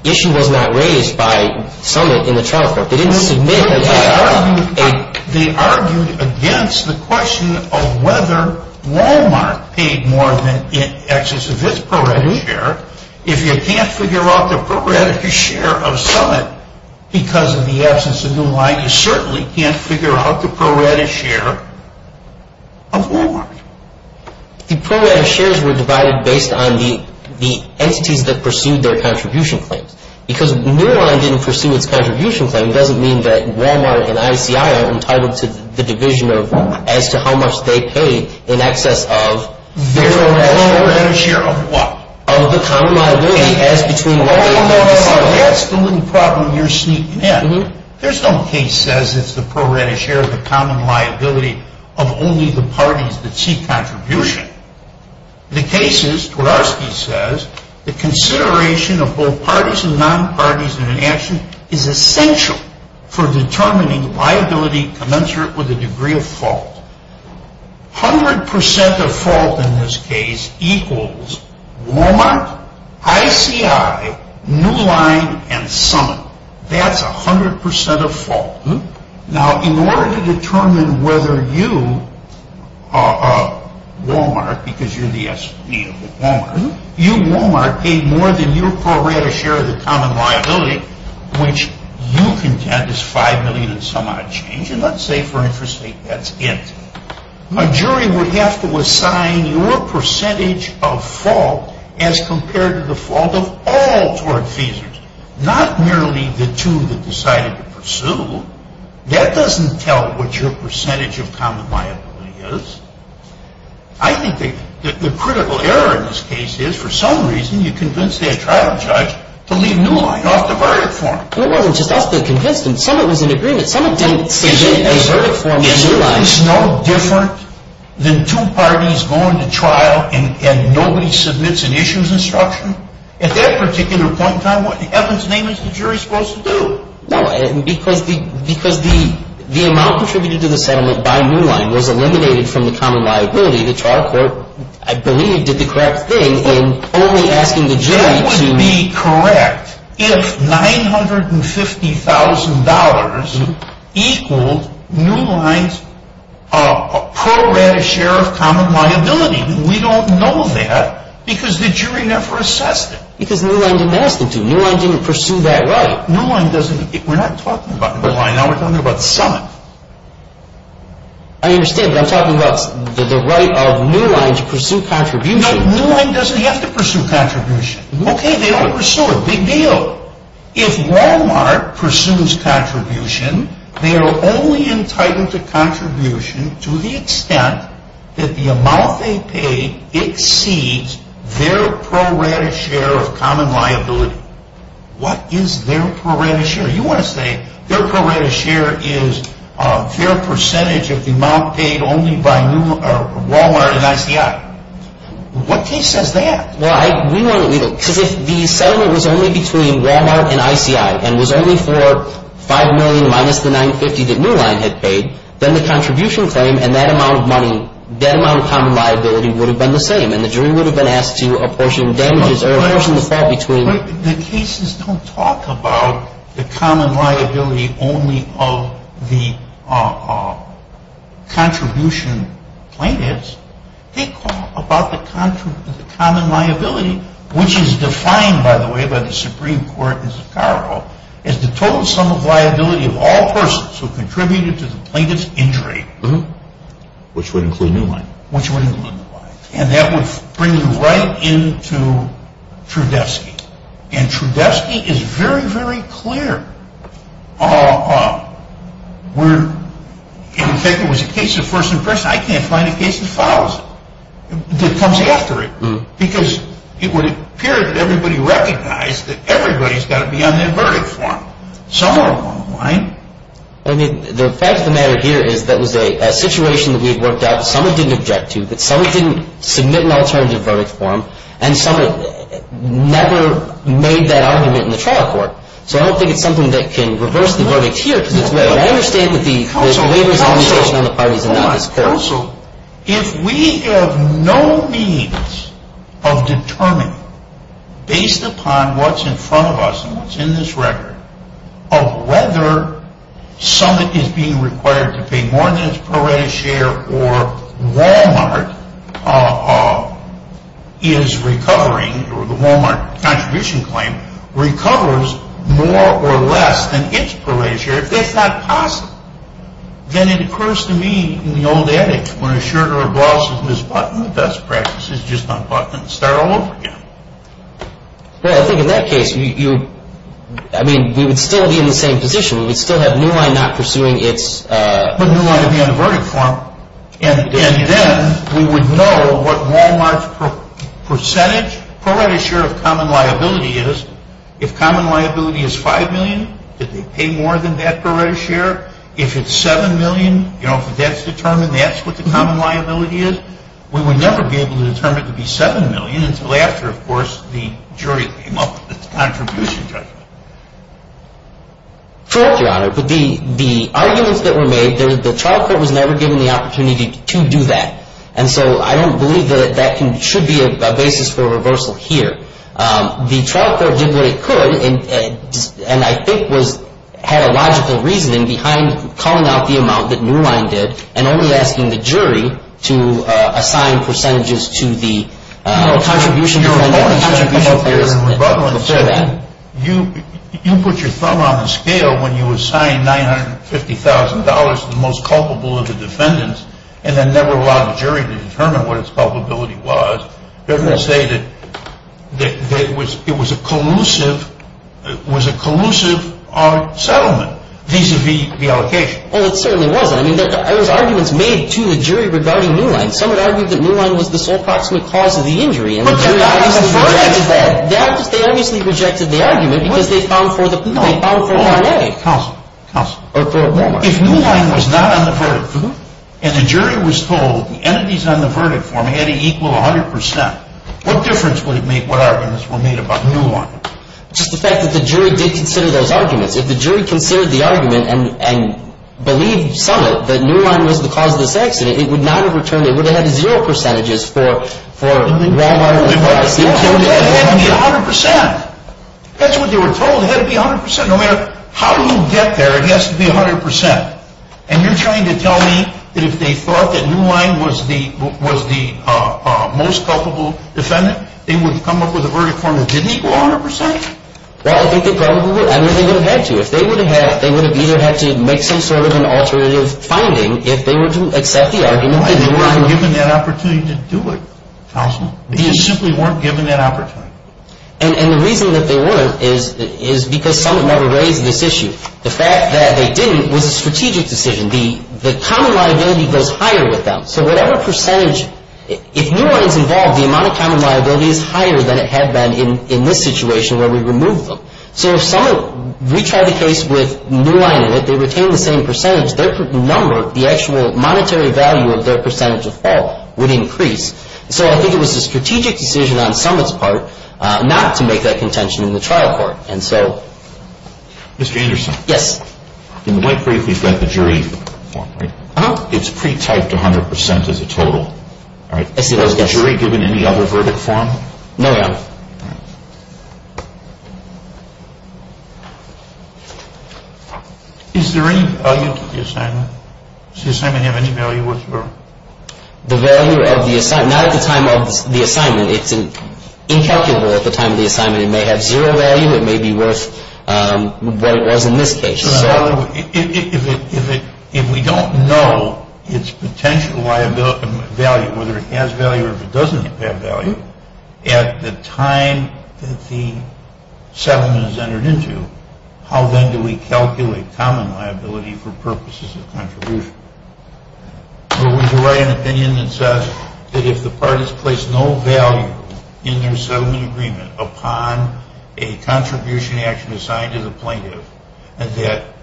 issue was not raised by Summit in the trial court. They didn't submit a... They argued against the question of whether Walmart paid more than in excess of its prorated share. If you can't figure out the prorated share of Summit because of the absence of new liability, you certainly can't figure out the prorated share of Walmart. The prorated shares were divided based on the entities that pursued their contribution claims. Because New Line didn't pursue its contribution claim doesn't mean that Walmart and ICI are entitled to the division of as to how much they paid in excess of... The prorated share of what? Of the common liability as between... That's the little problem you're sneaking in. There's no case that says it's the prorated share of the common liability of only the parties that seek contribution. The case is, Twardarski says, the consideration of both parties and non-parties in an action is essential for determining liability commensurate with the degree of fault. 100% of fault in this case equals Walmart, ICI, New Line, and Summit. That's 100% of fault. Now, in order to determine whether you, Walmart, because you're the SV of Walmart, you, Walmart, paid more than your prorated share of the common liability, which you contend is $5 million and some odd change. And let's say, for interest sake, that's it. A jury would have to assign your percentage of fault as compared to the fault of all Tward feesers, not merely the two that decided to pursue. That doesn't tell what your percentage of common liability is. I think the critical error in this case is, for some reason, you convinced that trial judge to leave New Line off the verdict form. It wasn't just us that convinced him. Summit was in agreement. Summit didn't submit a verdict form to New Line. Isn't this no different than two parties going to trial and nobody submits an issues instruction? At that particular point in time, what in heaven's name is the jury supposed to do? No, because the amount contributed to the settlement by New Line was eliminated from the common liability. The trial court, I believe, did the correct thing in only asking the jury to... That would be correct if $950,000 equaled New Line's prorated share of common liability. We don't know that because the jury never assessed it. Because New Line didn't ask them to. New Line didn't pursue that right. New Line doesn't... We're not talking about New Line. Now we're talking about Summit. I understand, but I'm talking about the right of New Line to pursue contribution. No, New Line doesn't have to pursue contribution. Okay, they ought to pursue it. Big deal. If Walmart pursues contribution, they are only entitled to contribution to the extent that the amount they pay exceeds their prorated share of common liability. What is their prorated share? You want to say their prorated share is their percentage of the amount paid only by Walmart and ICI. What case says that? Well, we won't believe it because if the settlement was only between Walmart and ICI and was only for $5 million minus the $950,000 that New Line had paid, then the contribution claim and that amount of common liability would have been the same and the jury would have been asked to apportion damages or apportion the fall between... The cases don't talk about the common liability only of the contribution plaintiffs. They talk about the common liability, which is defined, by the way, by the Supreme Court in Zocaro as the total sum of liability of all persons who contributed to the plaintiff's injury. Which would include New Line. Which would include New Line. And that would bring you right into Trudevsky. And Trudevsky is very, very clear. In fact, it was a case of first impression. I can't find a case that follows it, that comes after it because it would appear that everybody recognized that everybody's got to be on their verdict form. Some are wrong, right? I mean, the fact of the matter here is that was a situation that we had worked out that someone didn't object to, that someone didn't submit an alternative verdict form, and someone never made that argument in the trial court. So I don't think it's something that can reverse the verdict here. I understand that the... Counsel, Counsel, hold on. Counsel, if we have no means of determining, based upon what's in front of us and what's in this record, of whether Summit is being required to pay more than its prorated share or Walmart is recovering, or the Walmart contribution claim recovers more or less than its prorated share, if that's not possible, then it occurs to me in the old adage, when a shirt or a blouse is misbuttoned, the best practice is just unbutton it and start all over again. Well, I think in that case, I mean, we would still be in the same position. We would still have New Line not pursuing its... But New Line would be on the verdict form, and then we would know what Walmart's percentage prorated share of common liability is. If common liability is $5 million, did they pay more than that prorated share? If it's $7 million, you know, if that's determined, that's what the common liability is. We would never be able to determine if it could be $7 million until after, of course, the jury came up with its contribution judgment. Correct, Your Honor, but the arguments that were made, the trial court was never given the opportunity to do that, and so I don't believe that that should be a basis for reversal here. The trial court did what it could, and I think had a logical reasoning behind calling out the amount that New Line did and only asking the jury to assign percentages to the contribution... the only thing I can say is you put your thumb on the scale when you assigned $950,000 to the most culpable of the defendants and then never allowed the jury to determine what its culpability was. Doesn't it say that it was a collusive settlement vis-à-vis the allocation? Well, it certainly wasn't. I mean, there was arguments made to the jury regarding New Line. Some had argued that New Line was the sole proximate cause of the injury, and the jury obviously rejected that. They obviously rejected the argument because they found for the... No, counsel, counsel. If New Line was not on the verdict form and the jury was told the entities on the verdict form had to equal 100 percent, what difference would it make Just the fact that the jury did consider those arguments. If the jury considered the argument and believed some of it, that New Line was the cause of this accident, it would not have returned... It would have had zero percentages for Wal-Mart or the price. It had to be 100 percent. That's what they were told. It had to be 100 percent. No matter how you get there, it has to be 100 percent. And you're trying to tell me that if they thought that New Line was the most culpable defendant, they would come up with a verdict form that didn't equal 100 percent? Well, I think they probably would. I mean, they would have had to. If they would have had it, they would have either had to make some sort of an alternative finding if they were to accept the argument... They weren't given that opportunity to do it, Houseman. They just simply weren't given that opportunity. And the reason that they weren't is because Summit never raised this issue. The fact that they didn't was a strategic decision. The common liability goes higher with them. So whatever percentage... If New Line's involved, the amount of common liability is higher than it had been in this situation where we removed them. So if Summit retried the case with New Line in it, they retained the same percentage, their number, the actual monetary value of their percentage of fault, would increase. So I think it was a strategic decision on Summit's part not to make that contention in the trial court. And so... Mr. Anderson. Yes. In the white brief, we've got the jury form, right? Uh-huh. It's pre-typed 100 percent as a total. All right. Has the jury given any other verdict form? No, Your Honor. All right. Is there any value to the assignment? Does the assignment have any value whatsoever? The value of the assignment... Not at the time of the assignment. It's incalculable at the time of the assignment. It may have zero value. It may be worth what it was in this case. So... If we don't know its potential value, whether it has value or if it doesn't have value, at the time that the settlement is entered into, how then do we calculate common liability for purposes of contribution? Would you write an opinion that says that if the parties place no value in their settlement agreement upon a contribution action assigned to the plaintiff, that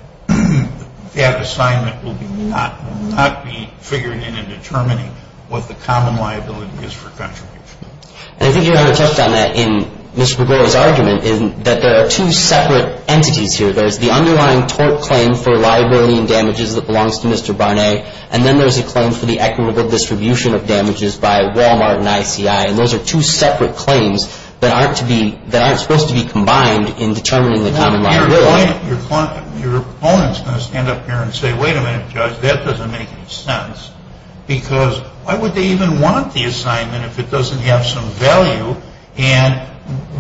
that assignment will not be figured in in determining what the common liability is for contribution? And I think Your Honor touched on that in Mr. Bregoli's argument in that there are two separate entities here. There's the underlying tort claim for liability and damages that belongs to Mr. Barnett, and then there's a claim for the equitable distribution of damages by Walmart and ICI. And those are two separate claims that aren't supposed to be combined in determining the common liability. Your opponent's going to stand up here and say, wait a minute, Judge, that doesn't make any sense because why would they even want the assignment if it doesn't have some value? And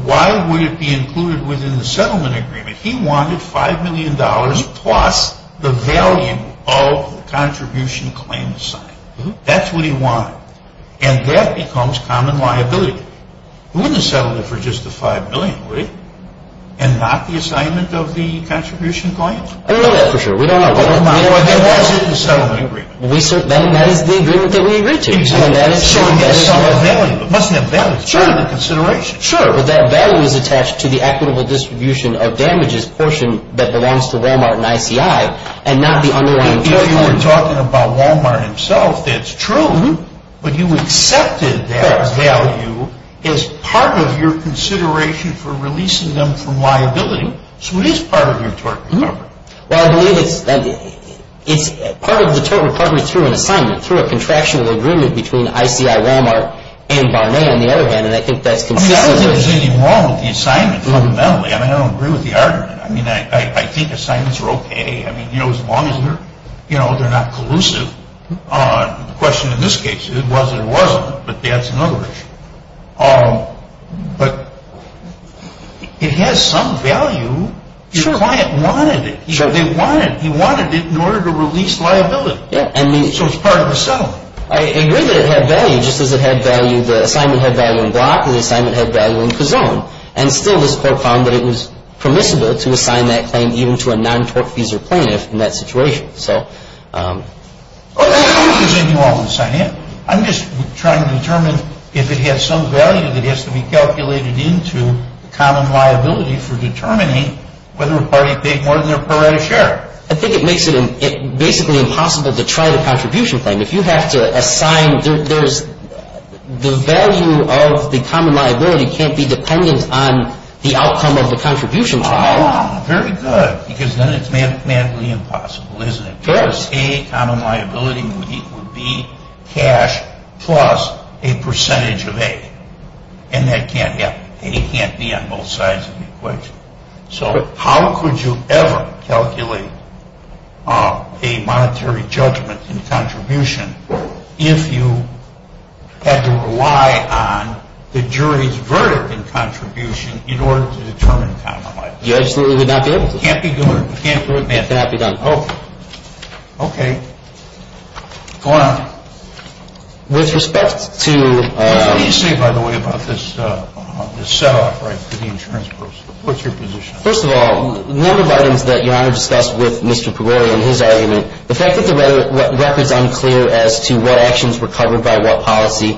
why would it be included within the settlement agreement? He wanted $5 million plus the value of the contribution claim assigned. That's what he wanted. And that becomes common liability. He wouldn't have settled it for just the $5 million, would he? And not the assignment of the contribution claim? I don't know that for sure. We don't know. Then why is it in the settlement agreement? That is the agreement that we agreed to. So it must have value. It must have value. It's part of the consideration. Sure. But that value is attached to the equitable distribution of damages portion that belongs to Walmart and ICI and not the underlying claim. I know you were talking about Walmart himself. That's true. But you accepted that value as part of your consideration for releasing them from liability. So it is part of your tort recovery. Well, I believe it's part of the tort recovery through an assignment, through a contraction of the agreement between ICI, Walmart, and Barnett, on the other hand, and I think that's consistent. I don't think there's anything wrong with the assignment fundamentally. I mean, I don't agree with the argument. I mean, I think assignments are okay, I mean, you know, as long as they're not collusive. The question in this case, it was or wasn't, but that's another issue. But it has some value. Sure. Your client wanted it. Sure. He wanted it in order to release liability. Yeah. So it's part of the settlement. I agree that it had value, just as it had value, the assignment had value in Block and the assignment had value in Kazone. And still this court found that it was permissible to assign that claim even to a non-tortfeasor plaintiff in that situation. So... I'm not accusing you all in the same way. I'm just trying to determine if it had some value that has to be calculated into the common liability for determining whether a party paid more than their prorated share. I think it makes it basically impossible to try the contribution claim. If you have to assign, there's... the value of the common liability can't be dependent on the outcome of the contribution claim. Ah, very good. Because then it's mathematically impossible, isn't it? Sure. A common liability would be cash plus a percentage of A. And that can't happen. A can't be on both sides of the equation. So how could you ever calculate a monetary judgment in contribution if you had to rely on the jury's verdict in contribution in order to determine common liability? You absolutely would not be able to. It can't be done. It can't be done. Oh. Okay. Go on. With respect to... What do you say, by the way, about this set-off for the insurance proposal? What's your position? First of all, the number of items that Your Honor discussed with Mr. Pagori and his argument, the fact that the record's unclear as to what actions were covered by what policy,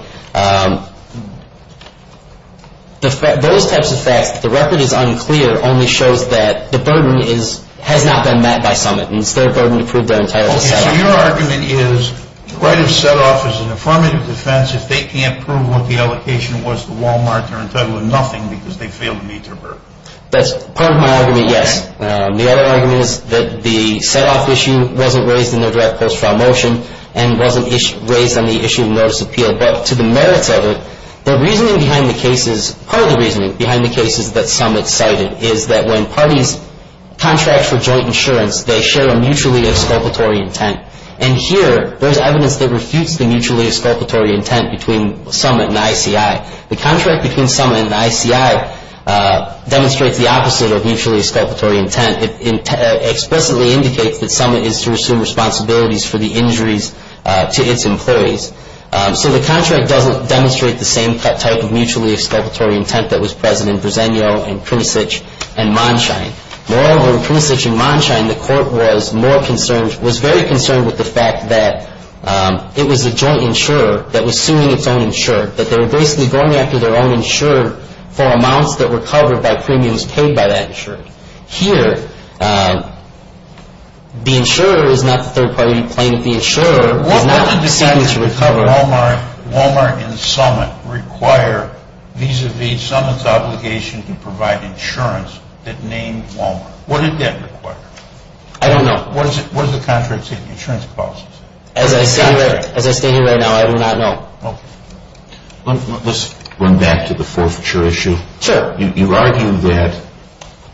those types of facts, the record is unclear only shows that the burden has not been met by summit. And it's their burden to prove that entire set-off. Okay. So your argument is the right of set-off is an affirmative defense if they can't prove what the allocation was to Walmart, they're entitled to nothing because they failed to meet their burden. That's part of my argument, yes. The other argument is that the set-off issue wasn't raised in their draft post-trial motion and wasn't raised on the issue of notice of appeal. But to the merits of it, the reasoning behind the cases, part of the reasoning behind the cases that summit cited is that when parties contract for joint insurance, they share a mutually exculpatory intent. And here, there's evidence that refutes the mutually exculpatory intent between summit and ICI. The contract between summit and ICI demonstrates the opposite of mutually exculpatory intent. It explicitly indicates that summit is to assume responsibilities for the injuries to its employees. So the contract doesn't demonstrate the same type of mutually exculpatory intent that was present in Bresenio, in Prusich, and Monshine. Moreover, in Prusich and Monshine, the court was more concerned, was very concerned with the fact that it was a joint insurer that was suing its own insurer, that they were basically going after their own insurer for amounts that were covered by premiums paid by that insurer. Here, the insurer is not the third party plaintiff. The insurer is not the seeking to recover. What did the decisions of Walmart and summit require vis-a-vis summit's obligation to provide insurance that named Walmart? What did that require? I don't know. What does the contract say, the insurance policy say? As I stand here, as I stand here right now, I do not know. Okay. Let's run back to the forfeiture issue. Sure. You argue that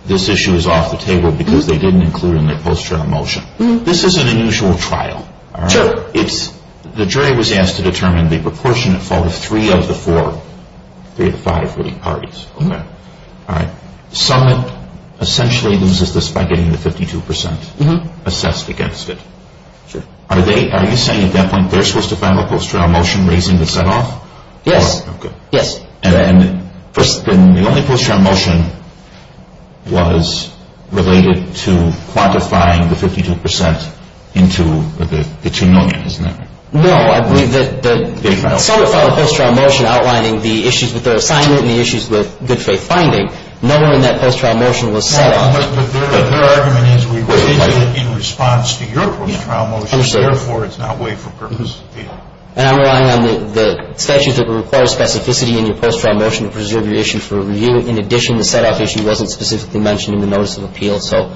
this issue is off the table because they didn't include in their post-trial motion. This is an unusual trial. Sure. It's, the jury was asked to determine the proportionate fault of three of the four, three of the five winning parties. Okay. All right. Summit essentially loses this by getting the 52% assessed against it. Sure. Are they, are you saying at that point they're supposed to file a post-trial motion raising the set-off? Yes. Okay. Yes. And the only post-trial motion was related to quantifying the 52% into the two million, isn't that right? No. I believe that the summit filed a post-trial motion outlining the issues with their assignment and the issues with good faith finding. No one in that post-trial motion was set-off. But their argument is we raised it in response to your post-trial motion, therefore it's not way for purpose appeal. And I'm relying on the statutes that require specificity in your post-trial motion to preserve your issue for review. In addition, the set-off issue wasn't specifically mentioned in the notice of appeal. So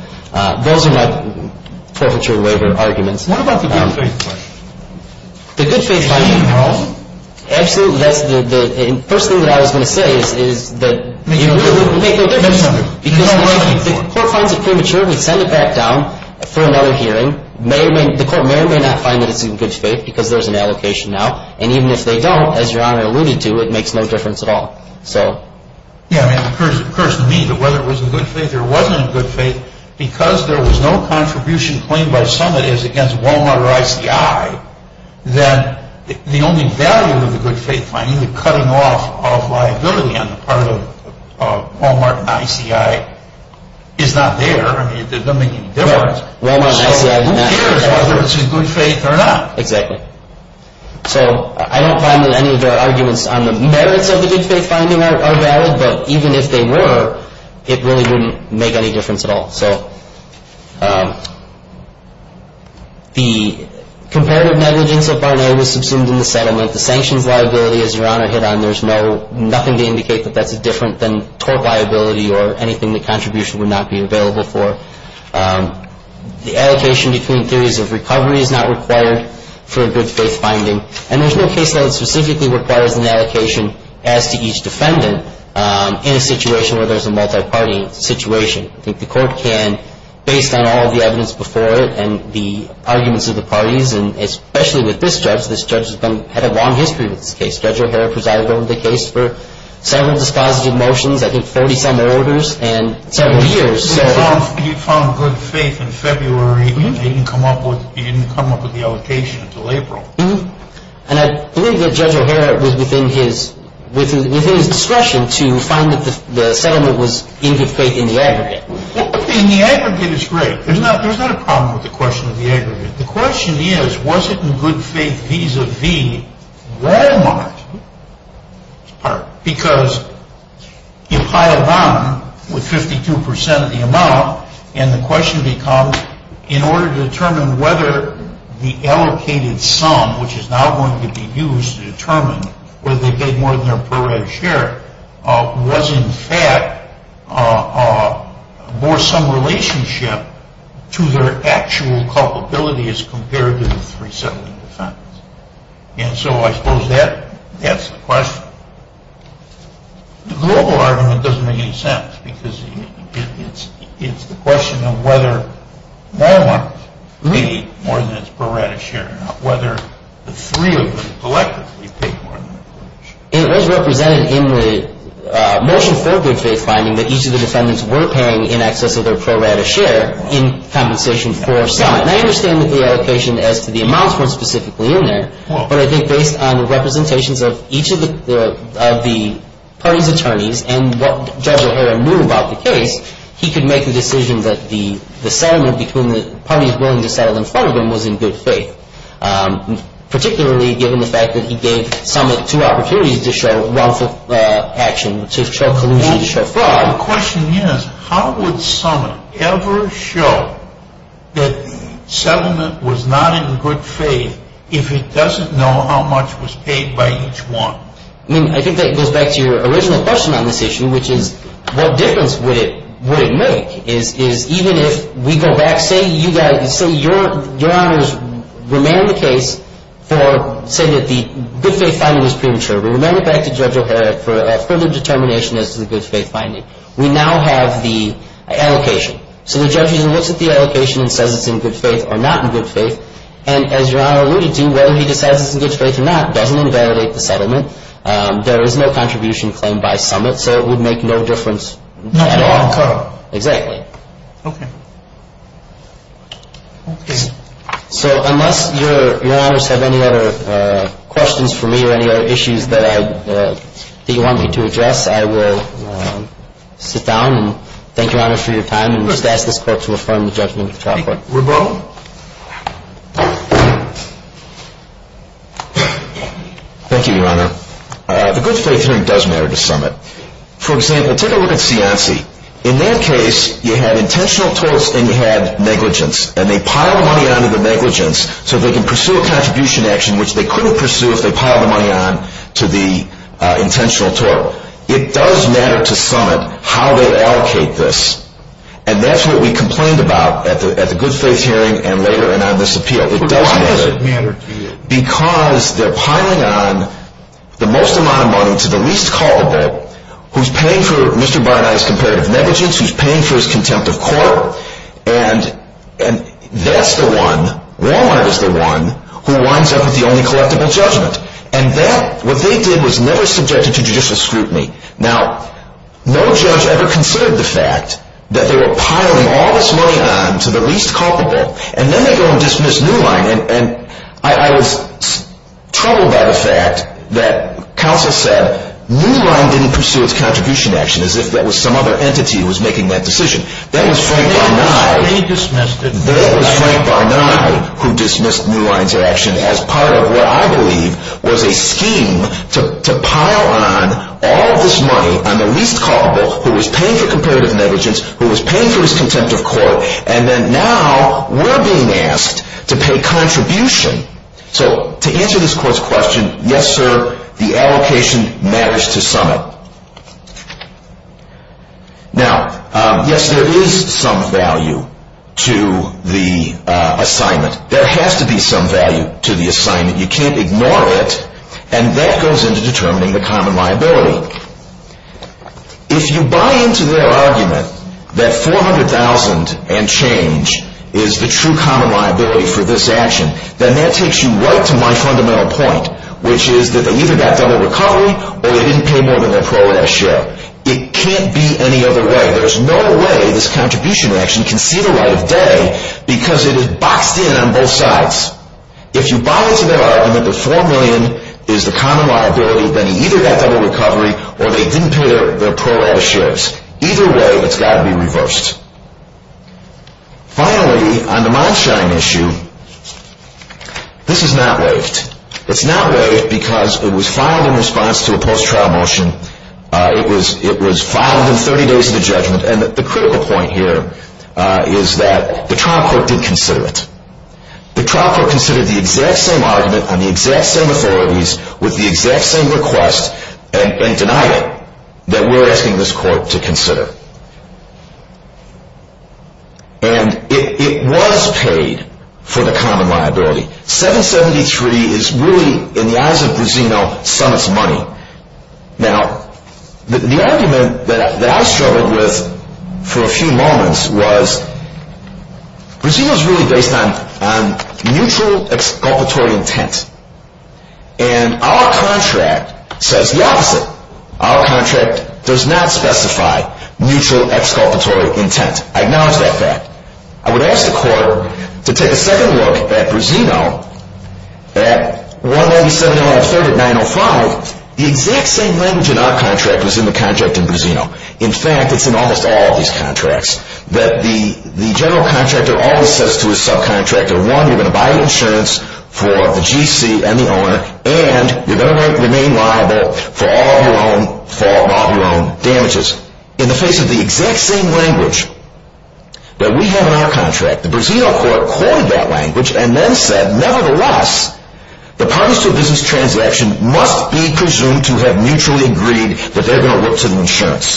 those are my perpetrator waiver arguments. What about the good faith finding? The good faith finding? Absolutely. That's the first thing that I was going to say is that you really make no difference because the court finds it premature and we send it back down for another hearing. The court may or may not find that it's premature because there was no contribution claimed by somebody as against Walmart or ICI. That the only value of the good faith finding, the cutting off of liability on the part of Walmart and ICI, is not there. I mean it doesn't make any difference. So who cares whether it's a good faith or not. Exactly. So I really wouldn't make any difference at all. So the comparative negligence of Barnett was subsumed in the settlement. The sanctions liability is around or hit on. There's nothing to indicate that that's different than torque liability or anything the contribution would not be available for. The allocation between theories of recovery is not required for a good faith finding. And there's no case that specifically requires an allocation as to each defendant in a situation where there's a multi-party situation. I think the court can, based on all the evidence before it and the arguments of the parties and especially with this judge, this judge has had a long history with this case. Judge O'Hara presided over the case for several dispositive motions, I think 47 orders and several years. He found good faith in February. He didn't come up with the allocation until April. And I believe that Judge O'Hara was within his discretion to find that the settlement was in good faith in the aggregate. In the aggregate it's great. There's not a problem with the question of the aggregate. The question is, was it in good faith vis-a-vis Walmart? Because you pile down with 52 percent of the amount and the question becomes in order to determine whether the allocated sum, which is now going to be used to determine whether they paid more than their per red share, was in fact more some relationship to their actual culpability as compared to the three settling defendants. And so I suppose that is the question. The global argument doesn't make any sense because it's the question of whether Walmart paid more than its per red share, not whether the three of them collectively paid more than their per red share. It was represented in the motion for good faith finding that each of the defendants were paying in excess of their per red a share in compensation for some. And I understand that the allocation as to the amounts weren't specifically in there, but I think based on the representations of each of the parties' attorneys and what Judge O'Hara knew about the case, he could make the decision that the settlement between the parties willing to settle in front of them was in good faith, particularly given the fact that he gave Summit two opportunities to show wrongful action, to show collusion, to show fraud. The question is how would Summit ever show that settlement was not in good faith if it doesn't know how much was paid by each one? I think that goes back to your original question on this issue, which is what difference would it make is even if we go back, say your Honor's remanded the case for saying that the good faith finding was premature. Remember back to Judge O'Hara for a further determination as to the good faith finding. We now have the allocation. So the judge looks at the allocation and says it's in good faith or not in good faith, and as your Honor alluded to, whether he decides it's in good faith or not doesn't invalidate the settlement. There is no contribution claimed by Summit, so it would make no difference at all. So unless your Honors have any other questions for me or any other issues that you want me to address, I will sit down and thank your Honor for your time and just ask this court to affirm the judgment of the trial court. Thank you, your Honor. The good faith hearing does matter to Summit. For example, take a look at Cianci. In that case, you had intentional torts and you had negligence, and they piled money onto the negligence so they can pursue a contribution action which they couldn't pursue if they piled the money onto the intentional tort. It does matter to Summit how they allocate this, and that's what we complained about at the good faith hearing and later and on this appeal. Why does it matter to you? Because they're piling on the most amount of money to the least culpable who's paying for Mr. Barney's comparative negligence, who's paying for his contempt of court, and that's the one, Walmart is the one, who winds up with the only collectible judgment. And that, what they did was never subjected to judicial scrutiny. Now, no judge ever considered the fact that they were piling all this money on to the least culpable, and then they go and dismiss Newline, and I was troubled by the fact that counsel said Newline didn't pursue its contribution action as if that was some other entity who was making that decision. That was Frank Barney who dismissed Newline's action as part of what I believe was a scheme to pile on all this money on the least culpable who was paying for comparative negligence, who was paying for his contempt of court, and then now we're being asked to pay contribution. So, to answer this court's question, yes, sir, the allocation matters to summit. Now, yes, there is some value to the assignment. There has to be some value to the assignment. You can't ignore it, and that goes into determining the common liability. If you buy into their argument that 400,000 and change is the true common liability for this action, then that takes you right to my fundamental point, which is that they either got double recovery or they didn't pay their pro rata shares. Either way, it's got to be reversed. Finally, on the mild-shying issue, this is not waived. It's not waived because it was filed in response to a post-trial motion. It was filed in 30 days of the judgment, and the critical point here is that the trial court did consider it. The trial court considered the exact same argument on the exact same authorities with the exact same request and denied it that we're asking this court to consider. And it was paid for the common liability. 773 is really, in the eyes of Brasino, some of its money. Now, the argument that I struggled with for a few moments was Brasino is really based on mutual exculpatory intent, and our contract says the opposite. Our contract does not specify mutual exculpatory intent. I acknowledge that fact. I would like to suggest the court to take a second look at Brasino at 197, 903, 905. The exact same language in our contract was in the contract in Brasino. In fact, it's in almost all of these contracts, that the general contractor always says to his clients that they are going to look to the insurance.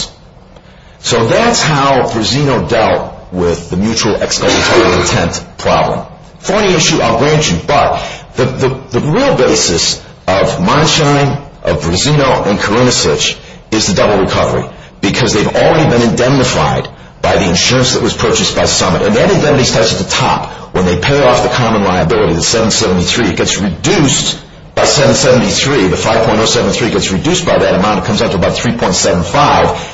So that's how Brasino dealt with the mutual exculpatory intent problem. Funny issue, I'll grant you, but the real basis of Monshine, of Brasino, and Karunasic is the fact that contractor always says to his clients that they are going to look to the mutual exculpatory intent problem. So the general contractor always says to his clients that they are going to look intent problem. So the general contractor always says to his clients that they are going to look to the mutual exculpatory intent Thank you.